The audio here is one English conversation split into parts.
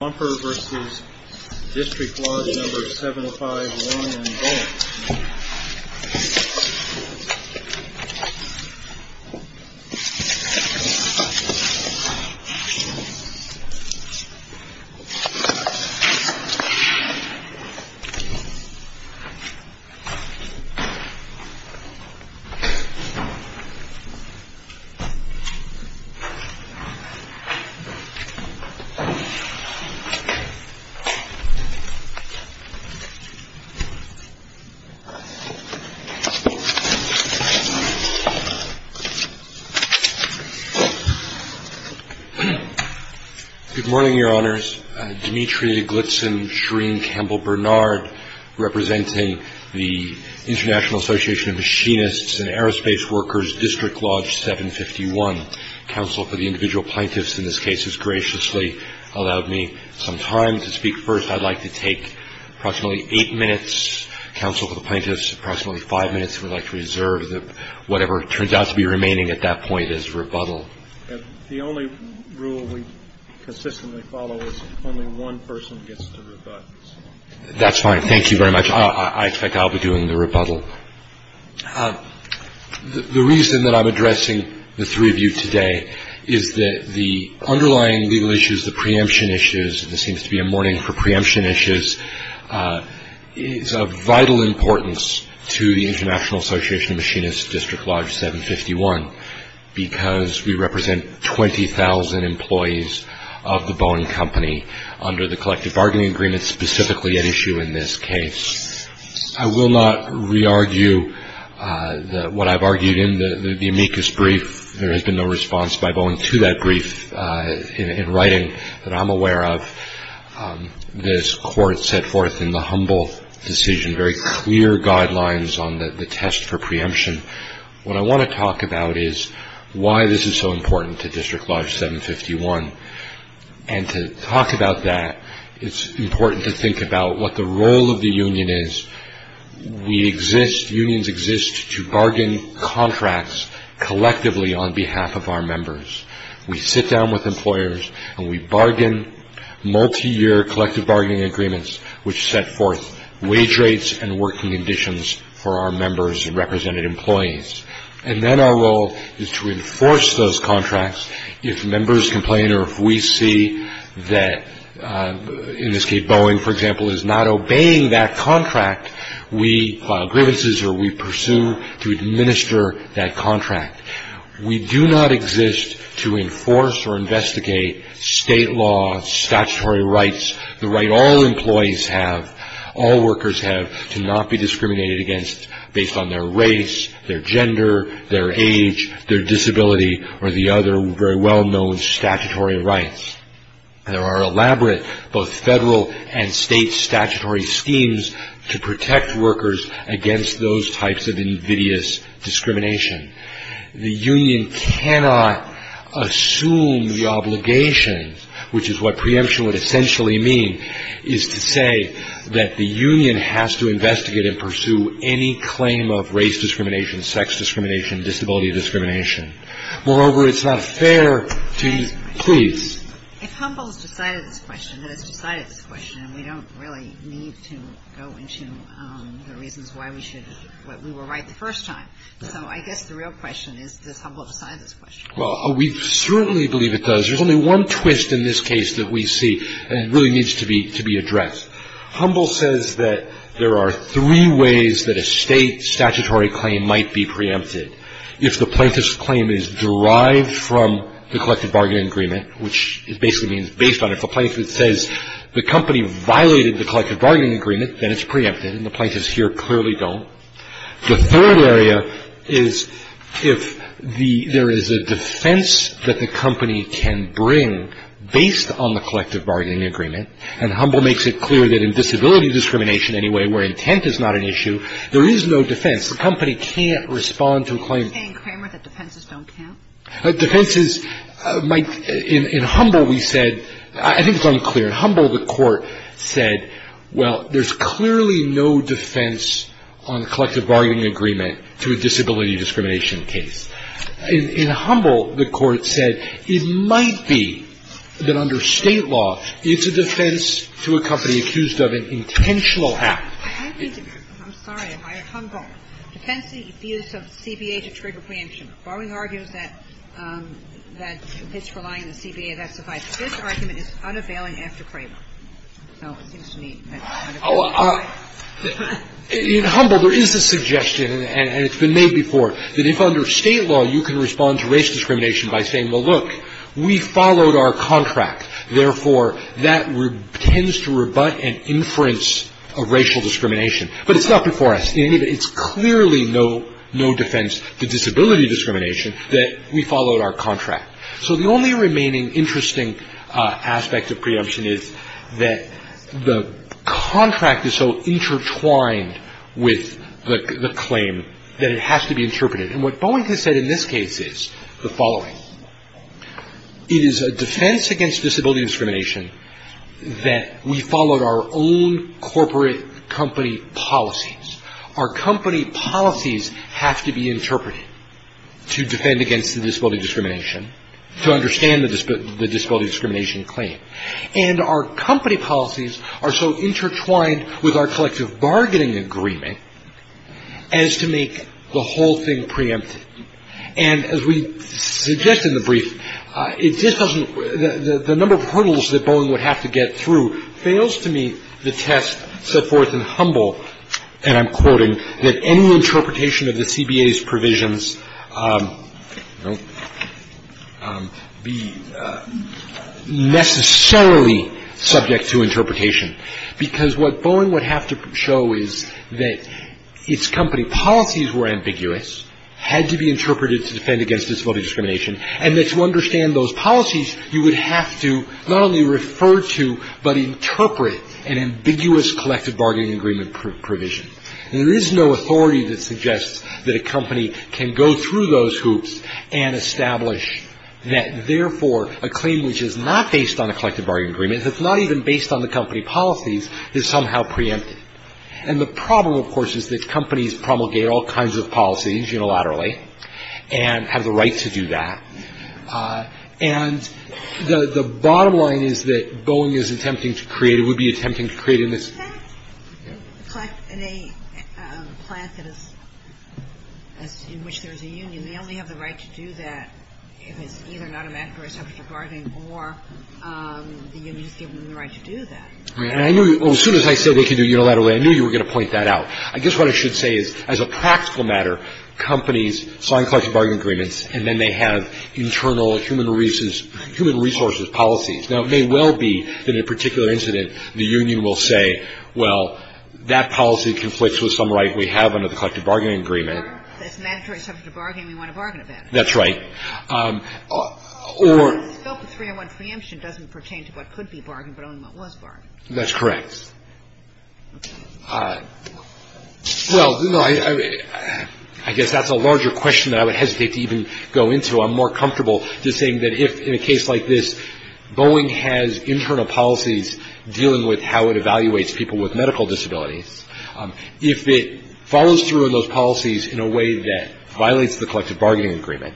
Bumper v. District Watch No. 751 in Boeing. Good morning, Your Honors. Dimitri Glitzen Shereen Campbell Bernard, representing the International Association of Machinists and Aerospace Workers, District Lodge 751, Council for the Individual Plaintiffs in this case has graciously allowed me some time to speak. First, I'd like to take approximately eight minutes. Council for the Plaintiffs, approximately five minutes. We'd like to reserve whatever turns out to be remaining at that point as rebuttal. The only rule we consistently follow is only one person gets to rebut. That's fine. Thank you very much. I expect I'll be doing the rebuttal. The reason that I'm addressing the three of you today is that the underlying legal issues, the preemption issues, there seems to be a mourning for preemption issues, is of vital importance to the International Association of Machinists, District Lodge 751, because we represent 20,000 employees of the Boeing Company under the collective bargaining agreement, specifically at issue in this case. I will not re-argue what I've argued in the amicus brief. There has been no response by Boeing to that brief in writing that I'm aware of. This court set forth in the humble decision very clear guidelines on the test for preemption. What I want to talk about is why this is so important to District Lodge 751. To talk about that, it's important to think about what the role of the union is. Unions exist to bargain contracts collectively on behalf of our members. We sit down with employers and we bargain multi-year collective bargaining agreements which set forth wage rates and working conditions for our members and represented employees. Then our role is to enforce those contracts. If members complain or if we see that in this case Boeing, for example, is not obeying that contract, we file grievances or we pursue to administer that contract. We do not exist to enforce or investigate state law, statutory rights, the right all employees have, all workers have, to not be discriminated against based on their race, their gender, their age, their disability, or the other very well-known statutory rights. There are elaborate both federal and state statutory schemes to protect workers against those types of invidious discrimination. The union cannot assume the obligation, which is what preemption would essentially mean, is to say that the union has to investigate and pursue any claim of race discrimination, sex discrimination, disability discrimination. Moreover, it's not fair to, please. If Humble has decided this question, and has decided this question, we don't really need to go into the reasons why we should, why we were right the first time. So I guess the real question is, does Humble decide this question? Well, we certainly believe it does. There's only one twist in this case that we see, and it really needs to be addressed. Humble says that there are three ways that a state statutory claim might be preempted. If the plaintiff's claim is derived from the collective bargaining agreement, which basically means based on it. If a plaintiff says the company violated the collective bargaining agreement, then it's preempted, and the plaintiffs here clearly don't. The third area is if the, there is a defense that the company can bring based on the collective bargaining agreement, and Humble makes it clear that in disability discrimination anyway, where intent is not an issue, there is no defense. The company can't respond to a claim. Kagan-Cramer, that defenses don't count? Defenses might, in Humble we said, I think it's unclear. In Humble, the Court said, well, there's clearly no defense on collective bargaining agreement to a disability discrimination case. In Humble, the Court said it might be that under State law, it's a defense to a company accused of an intentional act. I need to, I'm sorry. Humble. Defensive use of the CBA to trigger preemption. Barwing argues that it's relying on the CBA. This argument is unavailing after Cramer. So it seems to me that's unavailable. Oh, in Humble, there is a suggestion, and it's been made before, that if under State law, you can respond to race discrimination by saying, well, look, we followed our contract. Therefore, that tends to rebut and inference a racial discrimination. But it's not before us. It's clearly no defense to disability discrimination that we followed our contract. So the only remaining interesting aspect of preemption is that the contract is so intertwined with the claim that it has to be interpreted. And what Boeing has said in this case is the following. It is a defense against disability discrimination that we followed our own corporate company policies. Our company policies have to be interpreted to defend against the disability discrimination, to understand the disability discrimination claim. And our company policies are so intertwined with our collective bargaining agreement as to make the whole thing preempted. And as we suggest in the brief, it just doesn't the number of hurdles that Boeing would have to get through fails to meet the test set forth in Humble, and I'm quoting, that any interpretation of the CBA's provisions be necessarily subject to interpretation. Because what Boeing would have to show is that its company policies were ambiguous, had to be interpreted to defend against disability discrimination, and that to understand those policies, you would have to not only refer to but interpret an ambiguous collective bargaining agreement provision. And there is no authority that suggests that a company can go through those hoops and establish that, therefore, a claim which is not based on a collective bargaining agreement, that's not even based on the company policies, is somehow preempted. And the problem, of course, is that companies promulgate all kinds of policies unilaterally and have the right to do that. And the bottom line is that Boeing is attempting to create, would be attempting to create in this. Yeah. The fact that in a plant that is, in which there is a union, they only have the right to do that if it's either not a matter of collective bargaining or the union has given them the right to do that. Right. And I knew, as soon as I said they could do it unilaterally, I knew you were going to point that out. I guess what I should say is, as a practical matter, companies sign collective bargaining agreements, and then they have internal human resources policies. Now, it may well be that in a particular incident, the union will say, well, that policy conflicts with some right we have under the collective bargaining agreement. It's mandatory subject to bargaining. We want to bargain about it. That's right. Or. The scope of three-on-one preemption doesn't pertain to what could be bargained but only what was bargained. That's correct. Well, no, I guess that's a larger question that I would hesitate to even go into. I'm more comfortable just saying that if, in a case like this, Boeing has internal policies dealing with how it evaluates people with medical disabilities, if it follows through on those policies in a way that violates the collective bargaining agreement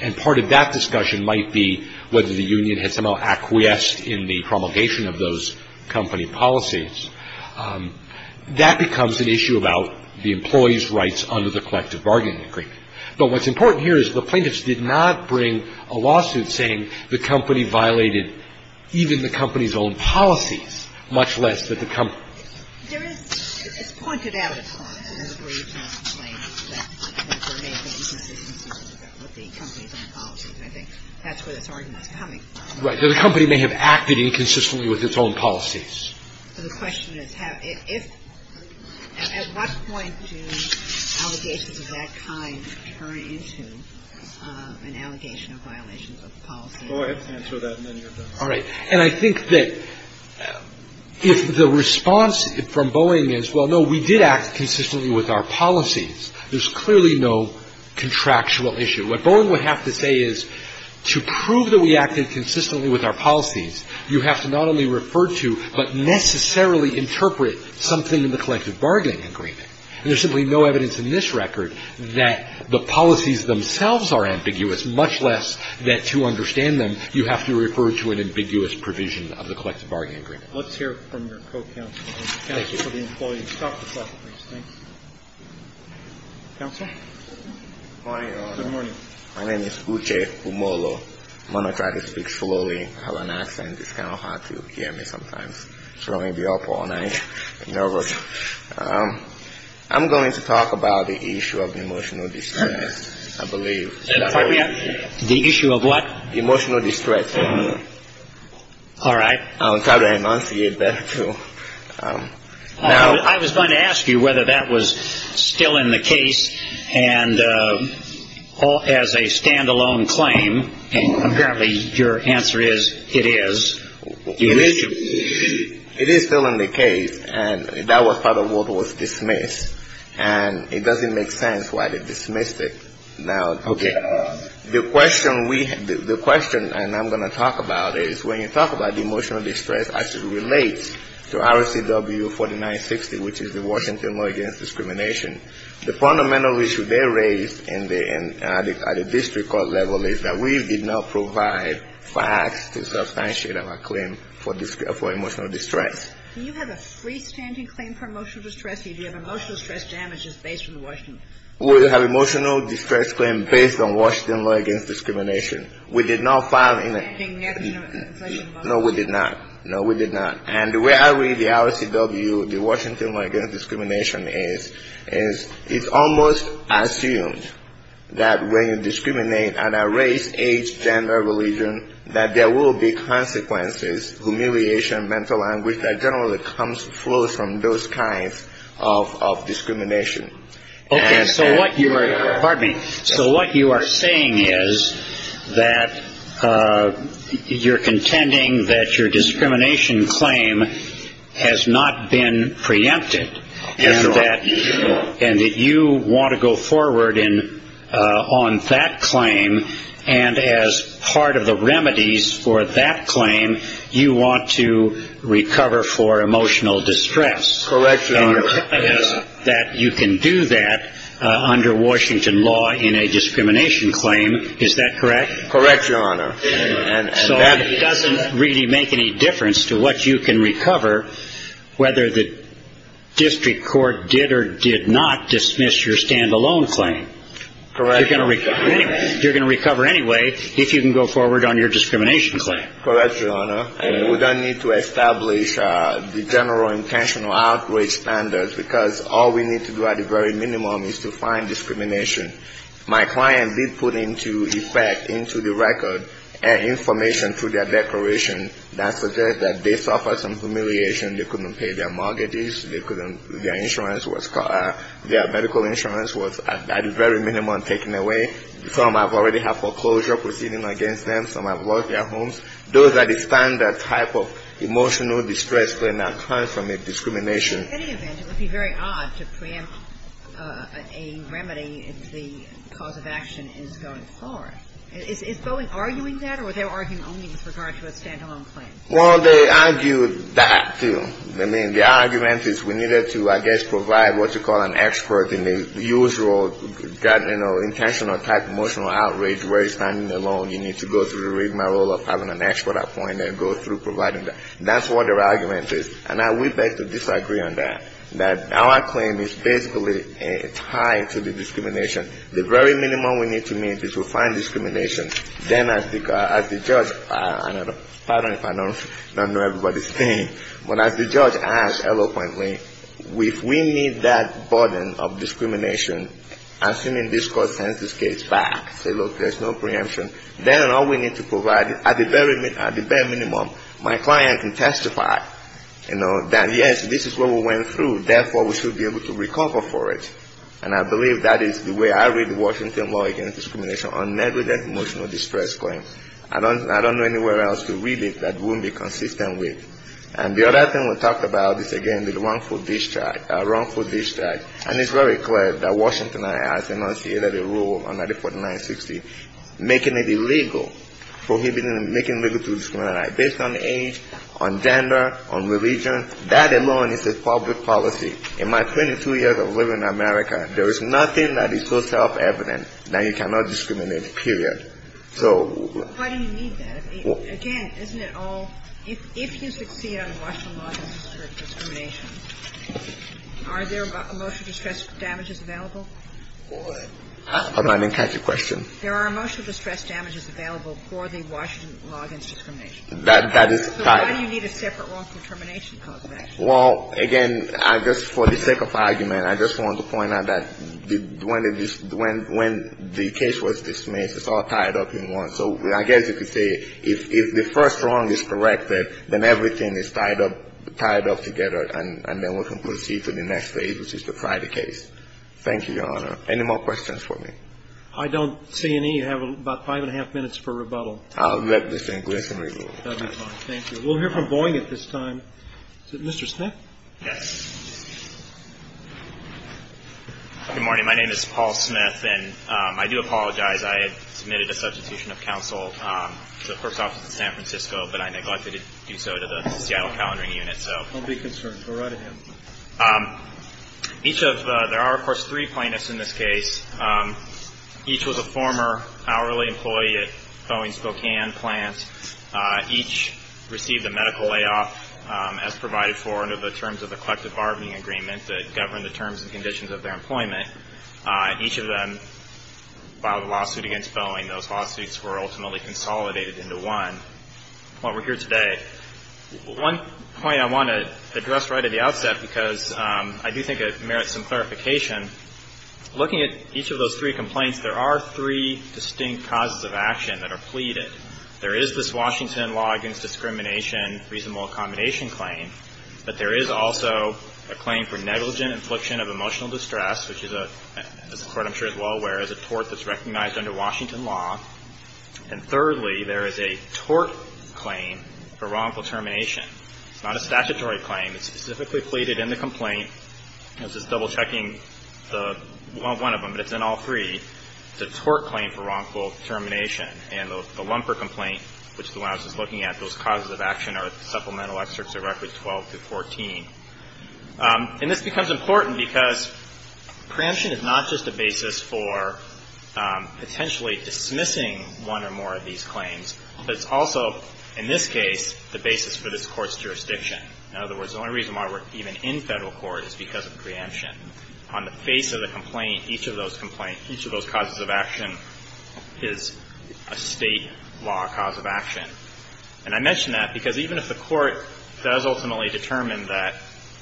and part of that discussion might be whether the union had somehow acquiesced in the promulgation of those company policies, that becomes an issue about the employee's rights under the collective bargaining agreement. But what's important here is the plaintiffs did not bring a lawsuit saying the company violated even the company's own policies, much less that the company. There is. It's pointed out at times in the briefs and the complaints that there may have been inconsistent with the company's own policies. And I think that's where this argument is coming from. Right. That a company may have acted inconsistently with its own policies. The question is, if, at what point do allegations of that kind turn into an allegation of violations of policy? Go ahead. Answer that, and then you're done. All right. And I think that if the response from Boeing is, well, no, we did act consistently with our policies, there's clearly no contractual issue. What Boeing would have to say is, to prove that we acted consistently with our policies, you have to not only refer to, but necessarily interpret something in the collective bargaining agreement. And there's simply no evidence in this record that the policies themselves are ambiguous, much less that, to understand them, you have to refer to an ambiguous provision of the collective bargaining agreement. Let's hear from your co-counsel. Thank you. Counsel for the employee. Talk to us, please. Thank you. Counsel? Good morning, Your Honor. Good morning. My name is Uche Kumolo. I'm going to try to speak slowly. I have an accent. It's kind of hard to hear me sometimes. So I'm going to be up all night. I'm nervous. I'm going to talk about the issue of emotional distress, I believe. The issue of what? Emotional distress. All right. I'll try to enunciate that, too. I was going to ask you whether that was still in the case, and as a stand-alone claim. And apparently your answer is it is. It is still in the case, and that was part of what was dismissed. And it doesn't make sense why they dismissed it. Now, the question we have, the question I'm going to talk about is when you talk about the emotional distress as it relates to RCW 4960, which is the Washington Law Against Discrimination, the fundamental issue they raised at the district court level is that we did not provide facts to substantiate our claim for emotional distress. Do you have a freestanding claim for emotional distress, or do you have emotional distress damages based on Washington? We have an emotional distress claim based on Washington Law Against Discrimination. We did not file in a — A standing motion. No, we did not. No, we did not. And the way I read the RCW, the Washington Law Against Discrimination, is it's almost assumed that when you discriminate on a race, age, gender, religion, that there will be consequences, humiliation, mental anguish, that generally flows from those kinds of discrimination. Okay, so what you are — pardon me. So what you are saying is that you're contending that your discrimination claim has not been preempted, and that you want to go forward on that claim, and as part of the remedies for that claim, you want to recover for emotional distress. Correct. And you're telling us that you can do that under Washington law in a discrimination claim. Is that correct? Correct, Your Honor. So it doesn't really make any difference to what you can recover, whether the district court did or did not dismiss your stand-alone claim. Correct. You're going to recover anyway if you can go forward on your discrimination claim. Correct, Your Honor. And we don't need to establish the general intentional outrage standards, because all we need to do at the very minimum is to find discrimination. My client did put into effect, into the record, information through their declaration that suggests that they suffered some humiliation. They couldn't pay their mortgages. Their insurance was — their medical insurance was at the very minimum taken away. Some have already had foreclosure proceeding against them. Some have lost their homes. Those that stand that type of emotional distress claim now come from a discrimination. In any event, it would be very odd to preempt a remedy if the cause of action is going forward. Is Boeing arguing that, or are they arguing only with regard to a stand-alone claim? Well, they argue that, too. I mean, the argument is we needed to, I guess, provide what you call an expert in the usual, you know, intentional type emotional outrage where you're standing alone. You need to go through the rigmarole of having an expert appointed and go through providing that. That's what their argument is. And we beg to disagree on that, that our claim is basically tied to the discrimination. The very minimum we need to meet is to find discrimination. Then as the judge — pardon if I don't know everybody's name, but as the judge asked eloquently, if we need that burden of discrimination, assuming this court sends this case back, say, look, there's no preemption, then all we need to provide, at the very minimum, my client can testify, you know, that yes, this is what we went through. Therefore, we should be able to recover for it. And I believe that is the way I read Washington law against discrimination on negligent emotional distress claims. I don't know anywhere else to read it that wouldn't be consistent with. And the other thing we talked about is, again, the wrongful discharge. And it's very clear that Washington has enunciated a rule under the 4960, making it illegal, prohibiting, making it illegal to discriminate based on age, on gender, on religion. That alone is a public policy. In my 22 years of living in America, there is nothing that is so self-evident that you cannot discriminate, period. So why do you need that? Again, isn't it all, if you succeed under Washington law against discrimination, are there emotional distress damages available? Hold on. I didn't catch your question. There are emotional distress damages available for the Washington law against discrimination. That is tied. So why do you need a separate wrongful termination clause, actually? Well, again, I just, for the sake of argument, I just wanted to point out that when the case was dismissed, it's all tied up in one. So I guess you could say if the first wrong is corrected, then everything is tied up, tied up together, and then we can proceed to the next phase, which is to try the case. Thank you, Your Honor. Any more questions for me? I don't see any. You have about five and a half minutes for rebuttal. I'll let this Englishman review. That would be fine. Thank you. We'll hear from Boeing at this time. Is it Mr. Smith? Yes. Good morning. My name is Paul Smith. I do apologize. I had submitted a substitution of counsel to the clerk's office in San Francisco, but I neglected to do so to the Seattle Calendaring Unit. Don't be concerned. We're right at hand. There are, of course, three plaintiffs in this case. Each was a former hourly employee at Boeing's Spokane plant. Each received a medical layoff as provided for under the terms of the collective bargaining agreement that governed the terms and conditions of their employment. Each of them filed a lawsuit against Boeing. Those lawsuits were ultimately consolidated into one. We're here today. One point I want to address right at the outset because I do think it merits some clarification. Looking at each of those three complaints, there are three distinct causes of action that are pleaded. There is this Washington law against discrimination reasonable accommodation claim, but there is also a claim for negligent infliction of emotional distress, which is a court I'm sure is well aware of, a tort that's recognized under Washington law. And thirdly, there is a tort claim for wrongful termination. It's not a statutory claim. It's specifically pleaded in the complaint. I was just double-checking one of them, but it's in all three. It's a tort claim for wrongful termination. And the lumper complaint, which is the one I was just looking at, those causes of action are supplemental excerpts of records 12 through 14. And this becomes important because preemption is not just a basis for potentially dismissing one or more of these claims, but it's also, in this case, the basis for this court's jurisdiction. In other words, the only reason why we're even in federal court is because of preemption. On the face of the complaint, each of those complaints, each of those causes of action is a state law cause of action. And I mention that because even if the court does ultimately determine that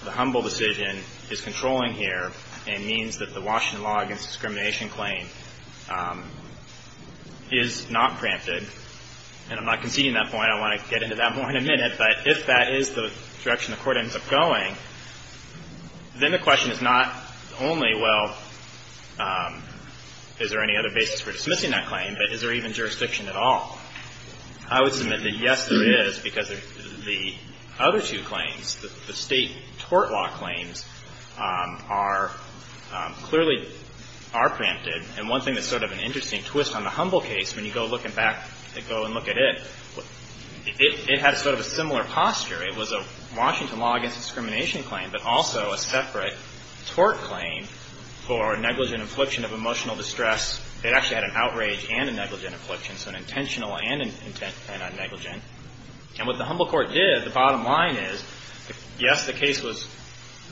the humble decision is controlling here and means that the Washington law against discrimination claim is not preempted, and I'm not conceding that point. I want to get into that more in a minute. But if that is the direction the court ends up going, then the question is not only, well, is there any other basis for dismissing that claim, but is there even jurisdiction at all? I would submit that, yes, there is, because the other two claims, the state tort law claims, are clearly are preempted. And one thing that's sort of an interesting twist on the humble case, when you go looking back and go and look at it, it has sort of a similar posture. It was a Washington law against discrimination claim, but also a separate tort claim for negligent infliction of emotional distress. It actually had an outrage and a negligent infliction, so an intentional and a negligent. And what the humble court did, the bottom line is, yes, the case was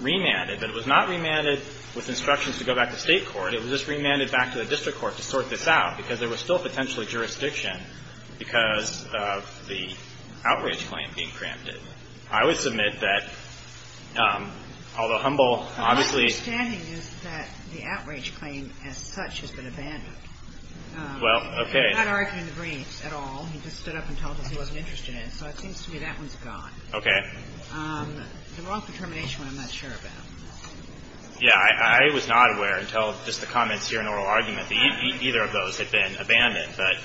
remanded, but it was not remanded with instructions to go back to state court. It was just remanded back to the district court to sort this out, because there was still potential jurisdiction because of the outrage claim being preempted. I would submit that, although humble obviously — Well, okay. Okay. Yeah, I was not aware until just the comments here in oral argument that either of those had been abandoned. But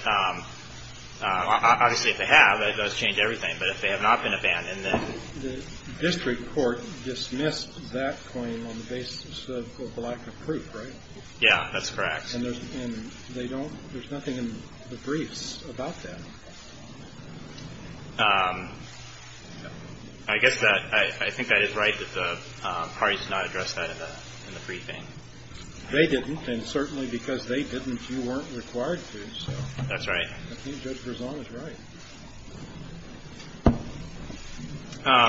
obviously if they have, that does change everything. But if they have not been abandoned, then — The district court dismissed that claim on the basis of a lack of proof, right? Yeah, that's correct. And they don't — there's nothing in the briefs about that. I guess that — I think that is right that the parties did not address that in the briefing. They didn't, and certainly because they didn't, you weren't required to. That's right. I think Judge Verzone is right.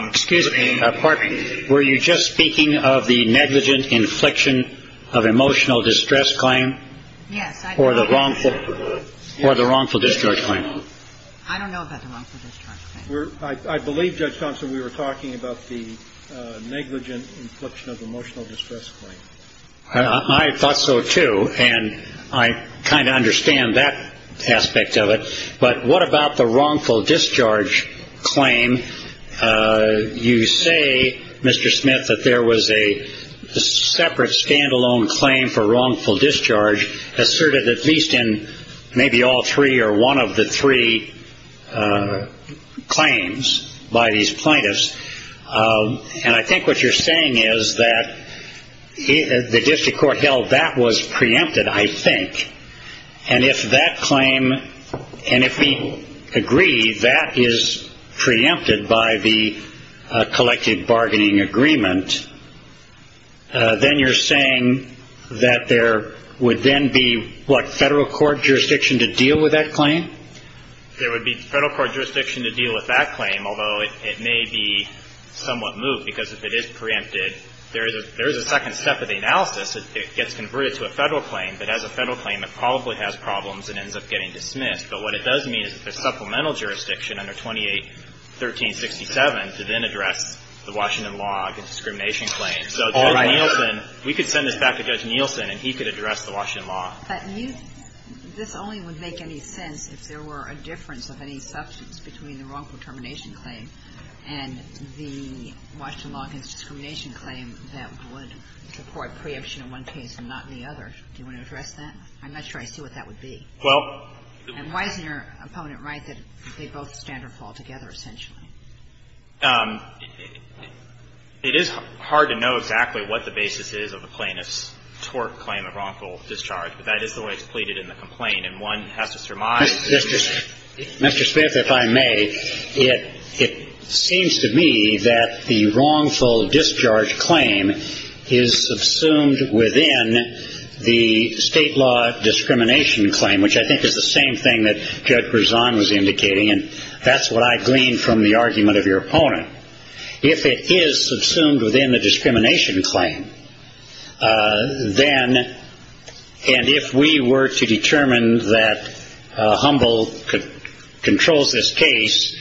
Excuse me. Pardon me. Were you just speaking of the negligent infliction of emotional distress claim? Yes. Or the wrongful — or the wrongful discharge claim? I don't know about the wrongful discharge claim. I believe, Judge Thompson, we were talking about the negligent infliction of emotional distress claim. I thought so, too. And I kind of understand that aspect of it. But what about the wrongful discharge claim? You say, Mr. Smith, that there was a separate stand-alone claim for wrongful discharge asserted at least in maybe all three or one of the three claims by these plaintiffs. And I think what you're saying is that the district court held that was preempted, I think. And if that claim — and if we agree that is preempted by the collected bargaining agreement, then you're saying that there would then be, what, federal court jurisdiction to deal with that claim? There would be federal court jurisdiction to deal with that claim, although it may be somewhat moved because if it is preempted, there is a second step of the analysis. It gets converted to a federal claim, but as a federal claim, it probably has problems and ends up getting dismissed. But what it does mean is a supplemental jurisdiction under 281367 to then address the Washington law discrimination claim. All right. So Judge Nielsen, we could send this back to Judge Nielsen and he could address the Washington law. But you — this only would make any sense if there were a difference of any substance between the wrongful termination claim and the Washington law discrimination claim that would support preemption in one case and not in the other. Do you want to address that? I'm not sure I see what that would be. Well — And why isn't your opponent right that they both stand or fall together, essentially? It is hard to know exactly what the basis is of a plaintiff's tort claim of wrongful discharge, but that is the way it's pleaded in the complaint. And one has to surmise — Mr. Smith, if I may, it seems to me that the wrongful discharge claim is subsumed within the state law discrimination claim, which I think is the same thing that Judge Berzon was indicating, and that's what I gleaned from the argument of your opponent. If it is subsumed within the discrimination claim, then — and if we were to determine that Humble controls this case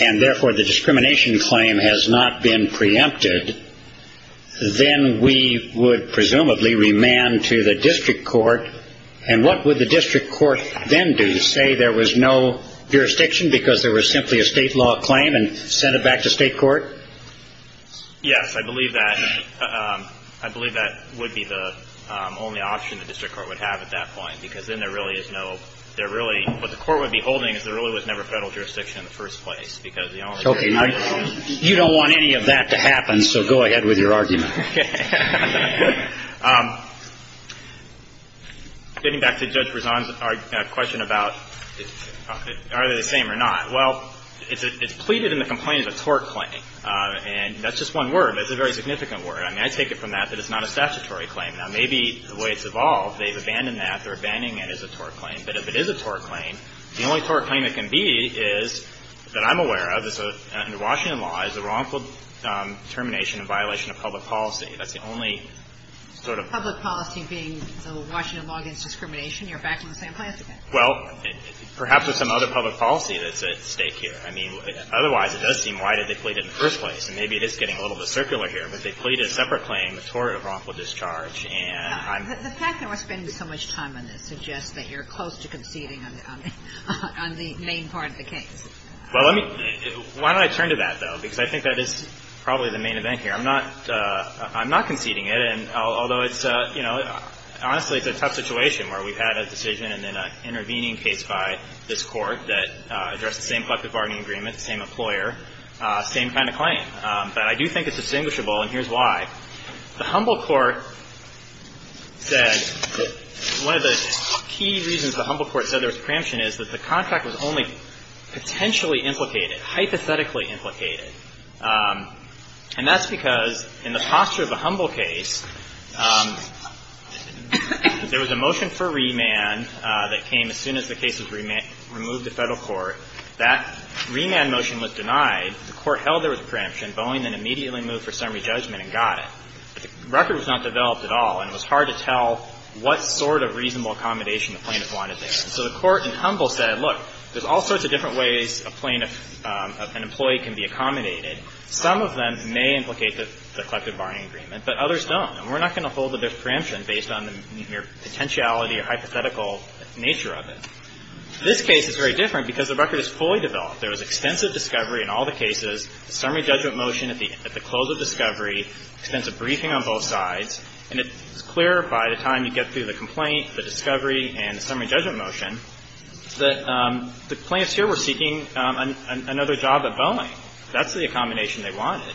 and, therefore, the discrimination claim has not been preempted, then we would presumably remand to the district court. And what would the district court then do? Say there was no jurisdiction because there was simply a state law claim and send it back to state court? Yes, I believe that would be the only option the district court would have at that point because then there really is no — there really — what the court would be holding is there really was never Federal jurisdiction in the first place because the only thing — Okay. You don't want any of that to happen, so go ahead with your argument. Getting back to Judge Berzon's question about are they the same or not, well, it's pleaded in the complaint as a tort claim. And that's just one word. It's a very significant word. I mean, I take it from that that it's not a statutory claim. Now, maybe the way it's evolved, they've abandoned that. They're abandoning it as a tort claim. But if it is a tort claim, the only tort claim it can be is, that I'm aware of, under Washington law, is a wrongful termination in violation of public policy. That's the only sort of — Public policy being the Washington law against discrimination? You're backing the same class again? Well, perhaps there's some other public policy that's at stake here. I mean, otherwise, it does seem, why did they plead it in the first place? And maybe it is getting a little bit circular here, but they pleaded a separate claim, a tort of wrongful discharge. And I'm — The fact that we're spending so much time on this suggests that you're close to conceding on the main part of the case. Well, let me — why don't I turn to that, though, because I think that is probably the main event here. I'm not conceding it, and although it's — you know, honestly, it's a tough situation where we've had a decision and then an intervening case by this Court that addressed the same collective bargaining agreement, same employer, same kind of claim. But I do think it's distinguishable, and here's why. The Humble Court said that one of the key reasons the Humble Court said there was preemption is that the contract was only potentially implicated, hypothetically implicated. And that's because in the posture of a Humble case, there was a motion for remand that came as soon as the case was removed to Federal court. That remand motion was denied. The Court held there was preemption, Boeing then immediately moved for summary judgment and got it. But the record was not developed at all, and it was hard to tell what sort of reasonable accommodation the plaintiff wanted there. And so the Court in Humble said, look, there's all sorts of different ways a plaintiff — an employee can be accommodated. Some of them may implicate the collective bargaining agreement, but others don't. And we're not going to hold that there's preemption based on the mere potentiality or hypothetical nature of it. This case is very different because the record is fully developed. There was extensive discovery in all the cases, summary judgment motion at the close of discovery, extensive briefing on both sides. And it's clear by the time you get through the complaint, the discovery, and the summary judgment motion that the plaintiffs here were seeking another job at Boeing. That's the accommodation they wanted.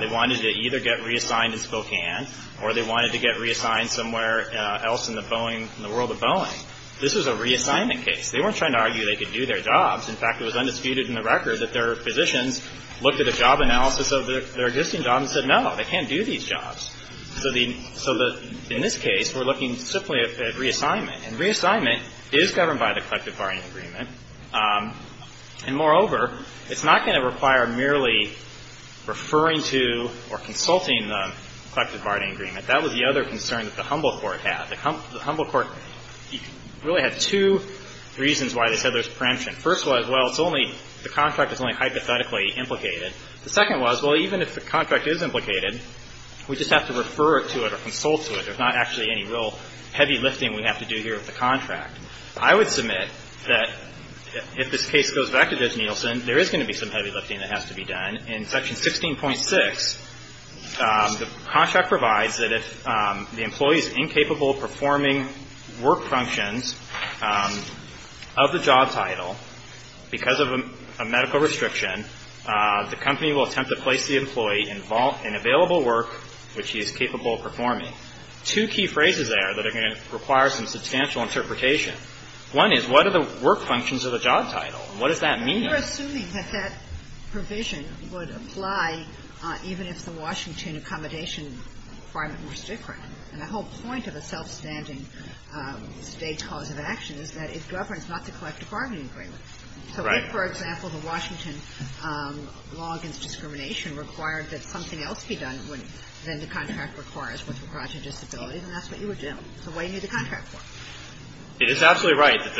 They wanted to either get reassigned in Spokane or they wanted to get reassigned somewhere else in the Boeing — in the world of Boeing. This was a reassignment case. They weren't trying to argue they could do their jobs. In fact, it was undisputed in the record that their physicians looked at a job analysis of their existing job and said, no, they can't do these jobs. So the — so the — in this case, we're looking simply at reassignment. And reassignment is governed by the collective bargaining agreement. And, moreover, it's not going to require merely referring to or consulting the collective bargaining agreement. That was the other concern that the Humble Court had. The Humble Court really had two reasons why they said there's preemption. The first was, well, it's only — the contract is only hypothetically implicated. The second was, well, even if the contract is implicated, we just have to refer to it or consult to it. There's not actually any real heavy lifting we have to do here with the contract. I would submit that if this case goes back to Judge Nielsen, there is going to be some heavy lifting that has to be done. In Section 16.6, the contract provides that if the employee is incapable of performing work functions of the job title because of a medical restriction, the company will attempt to place the employee in available work which he is capable of performing. Two key phrases there that are going to require some substantial interpretation. One is, what are the work functions of the job title? What does that mean? We're assuming that that provision would apply even if the Washington accommodation requirement was different. And the whole point of a self-standing State's cause of action is that it governs not to collect a bargaining agreement. So if, for example, the Washington law against discrimination required that something else be done than the contract requires with regard to disability, then that's what you would do. So what do you need the contract for? It is absolutely right that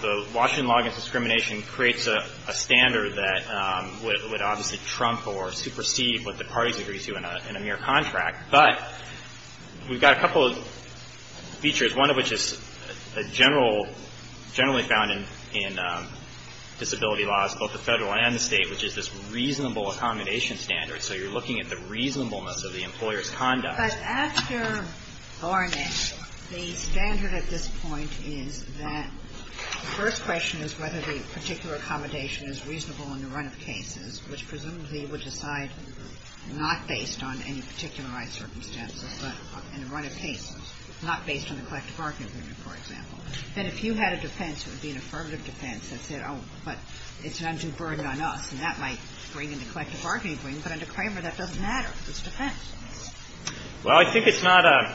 the Washington law against discrimination creates a standard that would obviously trump or supersede what the parties agree to in a mere contract. But we've got a couple of features, one of which is generally found in disability laws, both the Federal and the State, which is this reasonable accommodation standard. So you're looking at the reasonableness of the employer's conduct. But after Ornish, the standard at this point is that the first question is whether the particular accommodation is reasonable in the run of cases, which presumably would decide not based on any particular right circumstances, but in the run of cases, not based on the collective bargaining agreement, for example. And if you had a defense, it would be an affirmative defense that said, oh, but it's an un-conferred on us, and that might bring in the collective bargaining agreement. But under Kramer, that doesn't matter. It's defense. Well, I think it's not a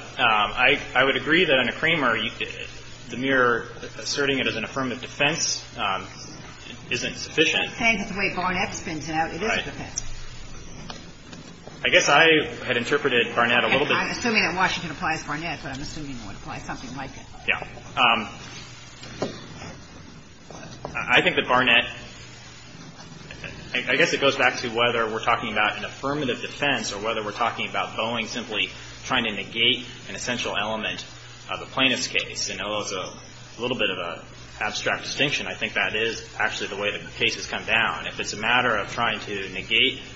– I would agree that under Kramer, the mere asserting it as an affirmative defense isn't sufficient. You're saying that the way Barnett spins it out, it is a defense. I guess I had interpreted Barnett a little bit. I'm assuming that Washington applies Barnett, but I'm assuming it would apply something like it. Yeah. I think that Barnett – I guess it goes back to whether we're talking about an affirmative defense or whether we're talking about Boeing simply trying to negate an essential element of a plaintiff's case. And although it's a little bit of an abstract distinction, I think that is actually the way the case has come down. If it's a matter of trying to negate –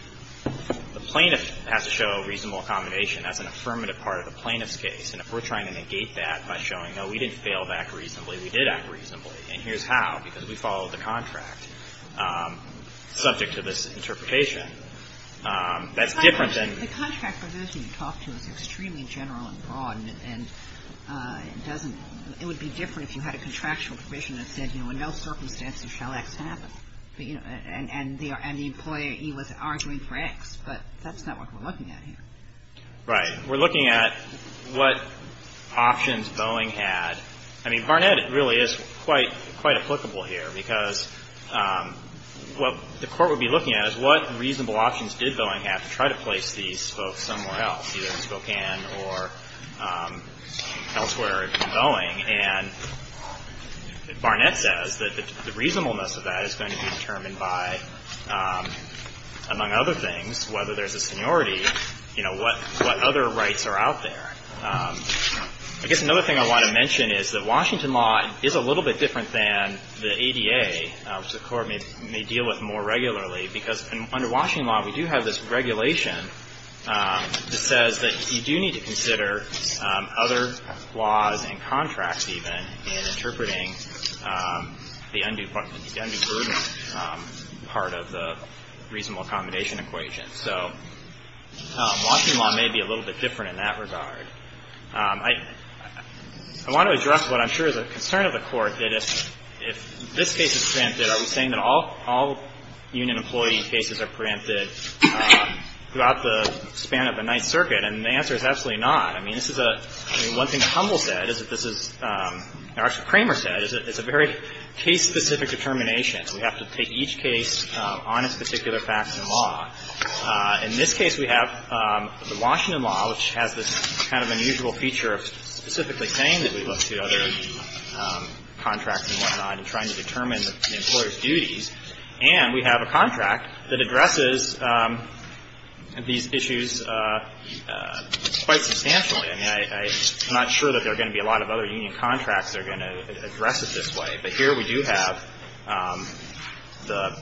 the plaintiff has to show reasonable accommodation. That's an affirmative part of the plaintiff's case. And if we're trying to negate that by showing, no, we didn't fail to act reasonably, we did act reasonably, and here's how, because we followed the contract, subject to this interpretation, that's different than – The contract provision you talked to is extremely general and broad, and it doesn't shall X happen. And the employee was arguing for X. But that's not what we're looking at here. Right. We're looking at what options Boeing had. I mean, Barnett really is quite applicable here, because what the Court would be looking at is what reasonable options did Boeing have to try to place these folks somewhere else, either in Spokane or elsewhere in Boeing. And Barnett says that the reasonableness of that is going to be determined by, among other things, whether there's a seniority, you know, what other rights are out there. I guess another thing I want to mention is that Washington law is a little bit different than the ADA, which the Court may deal with more regularly, because under Washington law, we do have this regulation that says that you do need to consider other laws and contracts, even, in interpreting the undue burden part of the reasonable accommodation equation. So Washington law may be a little bit different in that regard. I want to address what I'm sure is a concern of the Court, that if this case is preempted, are we saying that all union employee cases are preempted throughout the span of the Ninth Circuit? And the answer is absolutely not. I mean, this is a – I mean, one thing that Humble said is that this is – or actually, Kramer said is that it's a very case-specific determination. We have to take each case on its particular facts and law. In this case, we have the Washington law, which has this kind of unusual feature of specifically saying that we look to other contracts and whatnot in trying to determine the employer's duties. And we have a contract that addresses these issues quite substantially. I mean, I'm not sure that there are going to be a lot of other union contracts that are going to address it this way. But here we do have the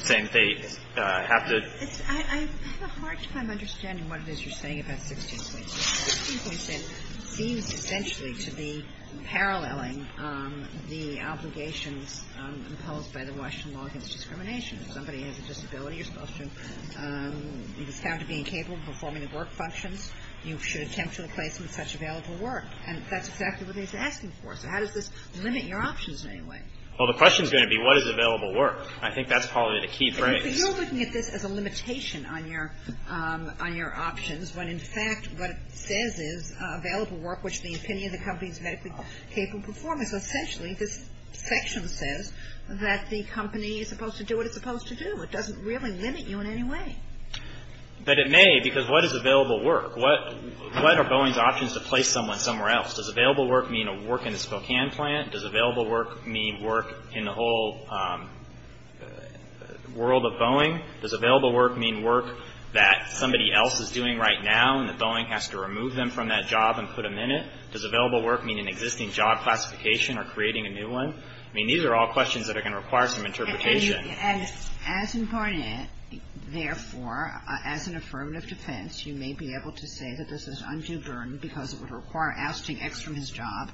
same thing. I have to – I have a hard time understanding what it is you're saying about 16 points. 16 points, then, seems essentially to be paralleling the obligations imposed by the Washington law against discrimination. If somebody has a disability, you're supposed to – if it's found to be incapable of performing the work functions, you should attempt to replace them with such available work. And that's exactly what they're asking for. So how does this limit your options in any way? Well, the question is going to be what is available work. I think that's probably the key phrase. But you're looking at this as a limitation on your options when, in fact, what it says is available work, which the opinion of the company is medically capable of performing. So essentially, this section says that the company is supposed to do what it's supposed to do. It doesn't really limit you in any way. But it may, because what is available work? What are Boeing's options to place someone somewhere else? Does available work mean a work in the Spokane plant? Does available work mean work in the whole world of Boeing? Does available work mean work that somebody else is doing right now and that Boeing has to remove them from that job and put them in it? Does available work mean an existing job classification or creating a new one? I mean, these are all questions that are going to require some interpretation. And as in Barnett, therefore, as an affirmative defense, you may be able to say that this is undue burden because it would require ousting X from his job,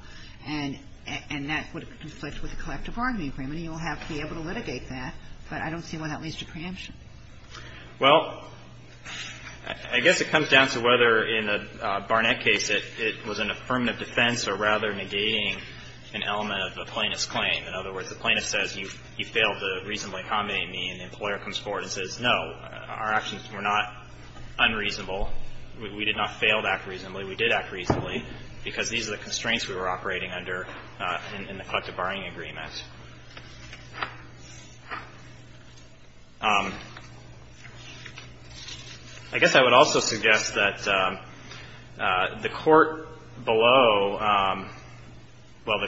and that would conflict with the collective bargaining agreement. He will have to be able to litigate that, but I don't see why that leads to preemption. Well, I guess it comes down to whether in the Barnett case it was an affirmative defense or rather negating an element of the plaintiff's claim. In other words, the plaintiff says you failed to reasonably accommodate me, and the employer comes forward and says, no, our options were not unreasonable. We did not fail to act reasonably. We did act reasonably because these are the constraints we were operating under in the collective bargaining agreement. I guess I would also suggest that the court below, well,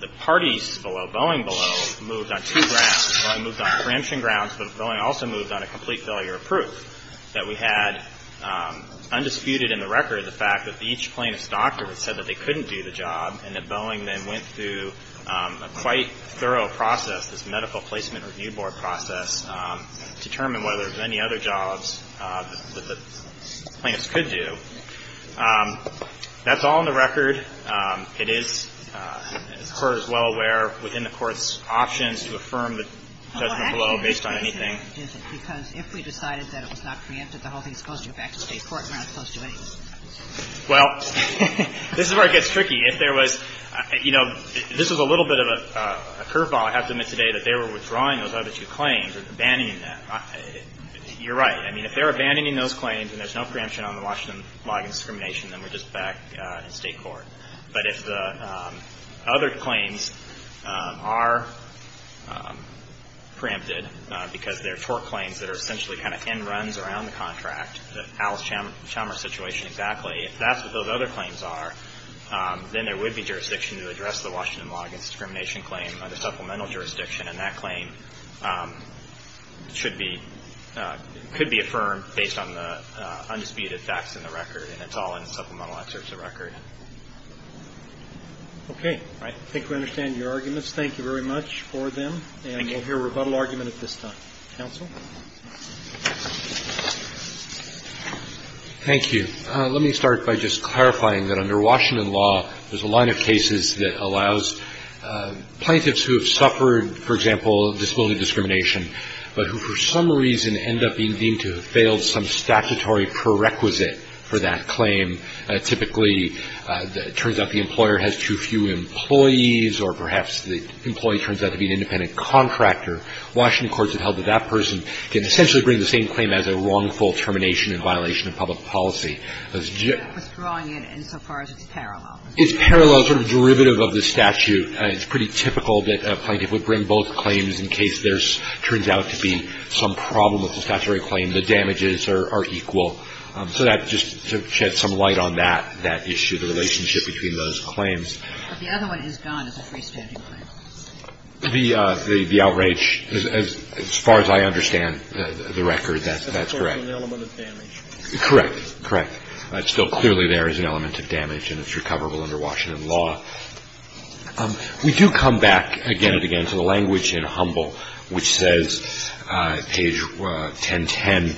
the parties below, Boeing below, moved on two grounds. Boeing moved on preemption grounds, but Boeing also moved on a complete failure of undisputed in the record the fact that each plaintiff's doctor had said that they couldn't do the job, and that Boeing then went through a quite thorough process, this medical placement review board process, to determine whether there were any other jobs that the plaintiffs could do. That's all in the record. It is as the Court is well aware within the Court's options to affirm the judgment below based on anything. Yes, Your Honor. Otherwise, you don't have any failure and there is no preemption because if we decided that it was not preempted, the whole thing is supposed to go back to State court and we're not supposed to do anything. Well, this is where it gets tricky. If there was, you know, this is a little bit of a curveball. I have to admit today that they were withdrawing those other two claims or abandoning them. You're right. I mean, if they're abandoning those claims and there's no preemption on the Washington log and discrimination, then we're just back in State court. But if the other claims are preempted because they're tort claims that are essentially kind of in runs around the contract, the Alice Chalmers situation exactly, if that's what those other claims are, then there would be jurisdiction to address the Washington log and discrimination claim under supplemental jurisdiction and that claim should be, could be affirmed based on the undisputed facts in the record and it's all in the supplemental excerpts of the record. Okay. Right. I think we understand your arguments. Thank you very much for them. Thank you. And we'll hear a rebuttal argument at this time. Counsel? Thank you. Let me start by just clarifying that under Washington law, there's a line of cases that allows plaintiffs who have suffered, for example, disability discrimination but who for some reason end up being deemed to have failed some statutory prerequisite for that claim. Typically, it turns out the employer has too few employees or perhaps the employee turns out to be an independent contractor. Washington courts have held that that person can essentially bring the same claim as a wrongful termination in violation of public policy. Withdrawing it insofar as it's parallel. It's parallel, sort of derivative of the statute. It's pretty typical that a plaintiff would bring both claims in case there turns out to be some problem with the statutory claim, the damages are equal. So that just sheds some light on that, that issue, the relationship between those claims. But the other one is gone as a freestanding claim. The outrage, as far as I understand the record, that's correct. That's also an element of damage. Correct, correct. It's still clearly there as an element of damage, and it's recoverable under Washington law. We do come back again and again to the language in Humble, which says, page 1010,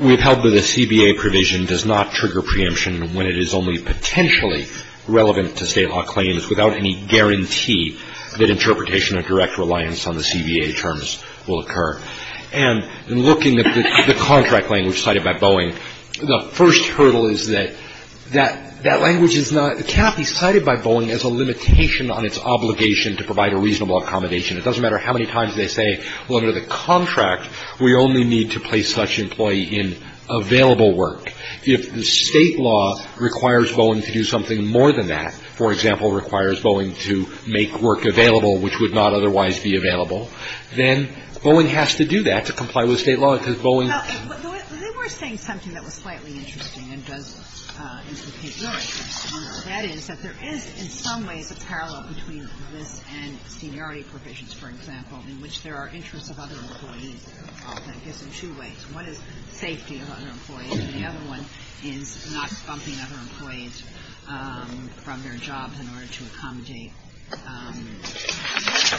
we've held that a CBA provision does not trigger preemption when it is only potentially relevant to State law claims without any guarantee that interpretation of direct reliance on the CBA terms will occur. And in looking at the contract language cited by Boeing, the first hurdle is that that language is not, cannot be cited by Boeing as a limitation on its obligation to provide a reasonable accommodation. It doesn't matter how many times they say, well, under the contract, we only need to place such employee in available work. If the State law requires Boeing to do something more than that, for example, requires Boeing to make work available, which would not otherwise be available, then Boeing has to do that to comply with State law, because Boeing. Now, they were saying something that was slightly interesting and does implicate your interest. That is, that there is in some ways a parallel between this and seniority provisions, for example, in which there are interests of other employees, I guess, in two ways. One is safety of other employees, and the other one is not bumping other employees from their jobs in order to accommodate disabled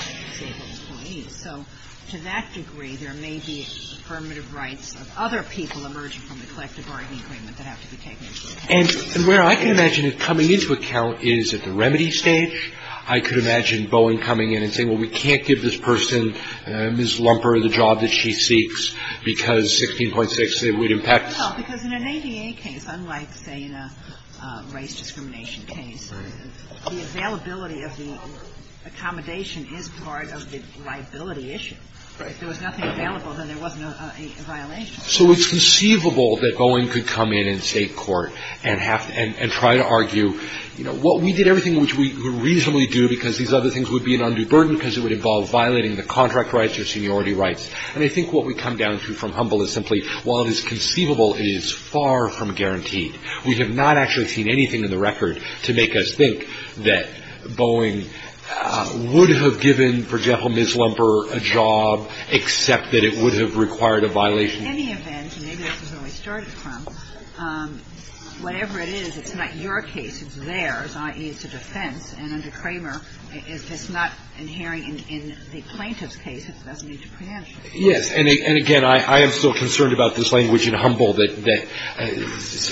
employees. So to that degree, there may be affirmative rights of other people emerging from the collective bargaining agreement that have to be taken into account. And where I can imagine it coming into account is at the remedy stage. I could imagine Boeing coming in and saying, well, we can't give this person, Ms. Lumper, the job that she seeks, because 16.6, it would impact. Well, because in an ADA case, unlike, say, in a race discrimination case, the availability of the accommodation is part of the liability issue. If there was nothing available, then there wasn't a violation. So it's conceivable that Boeing could come in in State court and try to argue, you know, what we did, everything which we reasonably do, because these other things would be an undue burden, because it would involve violating the contract rights or seniority rights. And I think what we come down to from Humble is simply, while it is conceivable, it is far from guaranteed. We have not actually seen anything in the record to make us think that Boeing would have given, for example, Ms. Lumper a job, except that it would have required a violation. But in any event, and maybe this is where we started from, whatever it is, it's not your case, it's theirs, i.e., it's a defense. And under Kramer, if it's not inhering in the plaintiff's case, it doesn't need to preempt you. Yes. And again, I am still concerned about this language in Humble that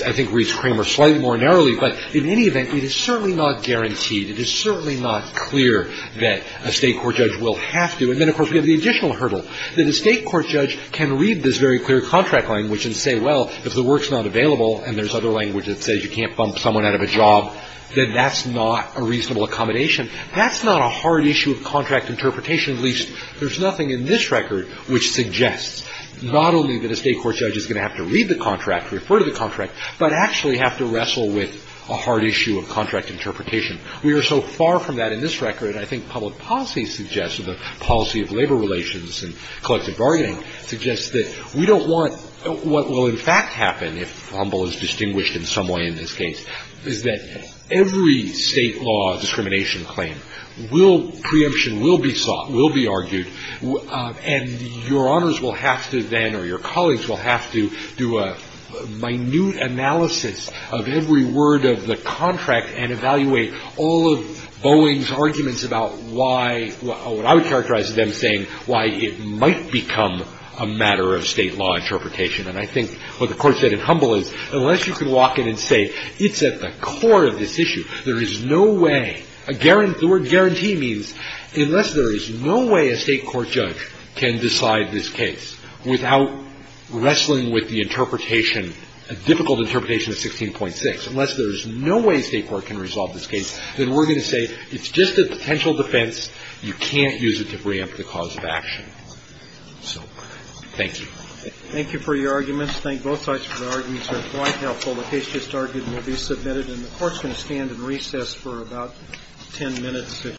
I think reads Kramer slightly more narrowly. But in any event, it is certainly not guaranteed. It is certainly not clear that a State court judge will have to. And then, of course, we have the additional hurdle, that a State court judge can read this very clear contract language and say, well, if the work's not available and there's other language that says you can't bump someone out of a job, then that's not a reasonable accommodation. That's not a hard issue of contract interpretation, at least there's nothing in this record which suggests not only that a State court judge is going to have to read the contract, refer to the contract, but actually have to wrestle with a hard issue of contract interpretation. We are so far from that in this record, I think public policy suggests, or the policy of labor relations and collective bargaining suggests that we don't want what will in fact happen, if Humble is distinguished in some way in this case, is that every State law discrimination claim will, preemption will be sought, will be argued, and Your Honors will have to then, or your colleagues will have to do a minute analysis of every word of the contract and evaluate all of Boeing's arguments about why, what I would characterize as them saying why it might become a matter of State law interpretation. And I think what the Court said in Humble is unless you can walk in and say it's at the core of this issue, there is no way, the word guarantee means unless there is no way a State court judge can decide this case without wrestling with the interpretation, a difficult interpretation of 16.6, unless there is no way a State court can resolve this case, then we're going to say it's just a potential defense. You can't use it to bring up the cause of action. So, thank you. Roberts. Thank you for your arguments. I think both sides of the argument are quite helpful. The case just argued will be submitted, and the Court's going to stand in recess for about ten minutes.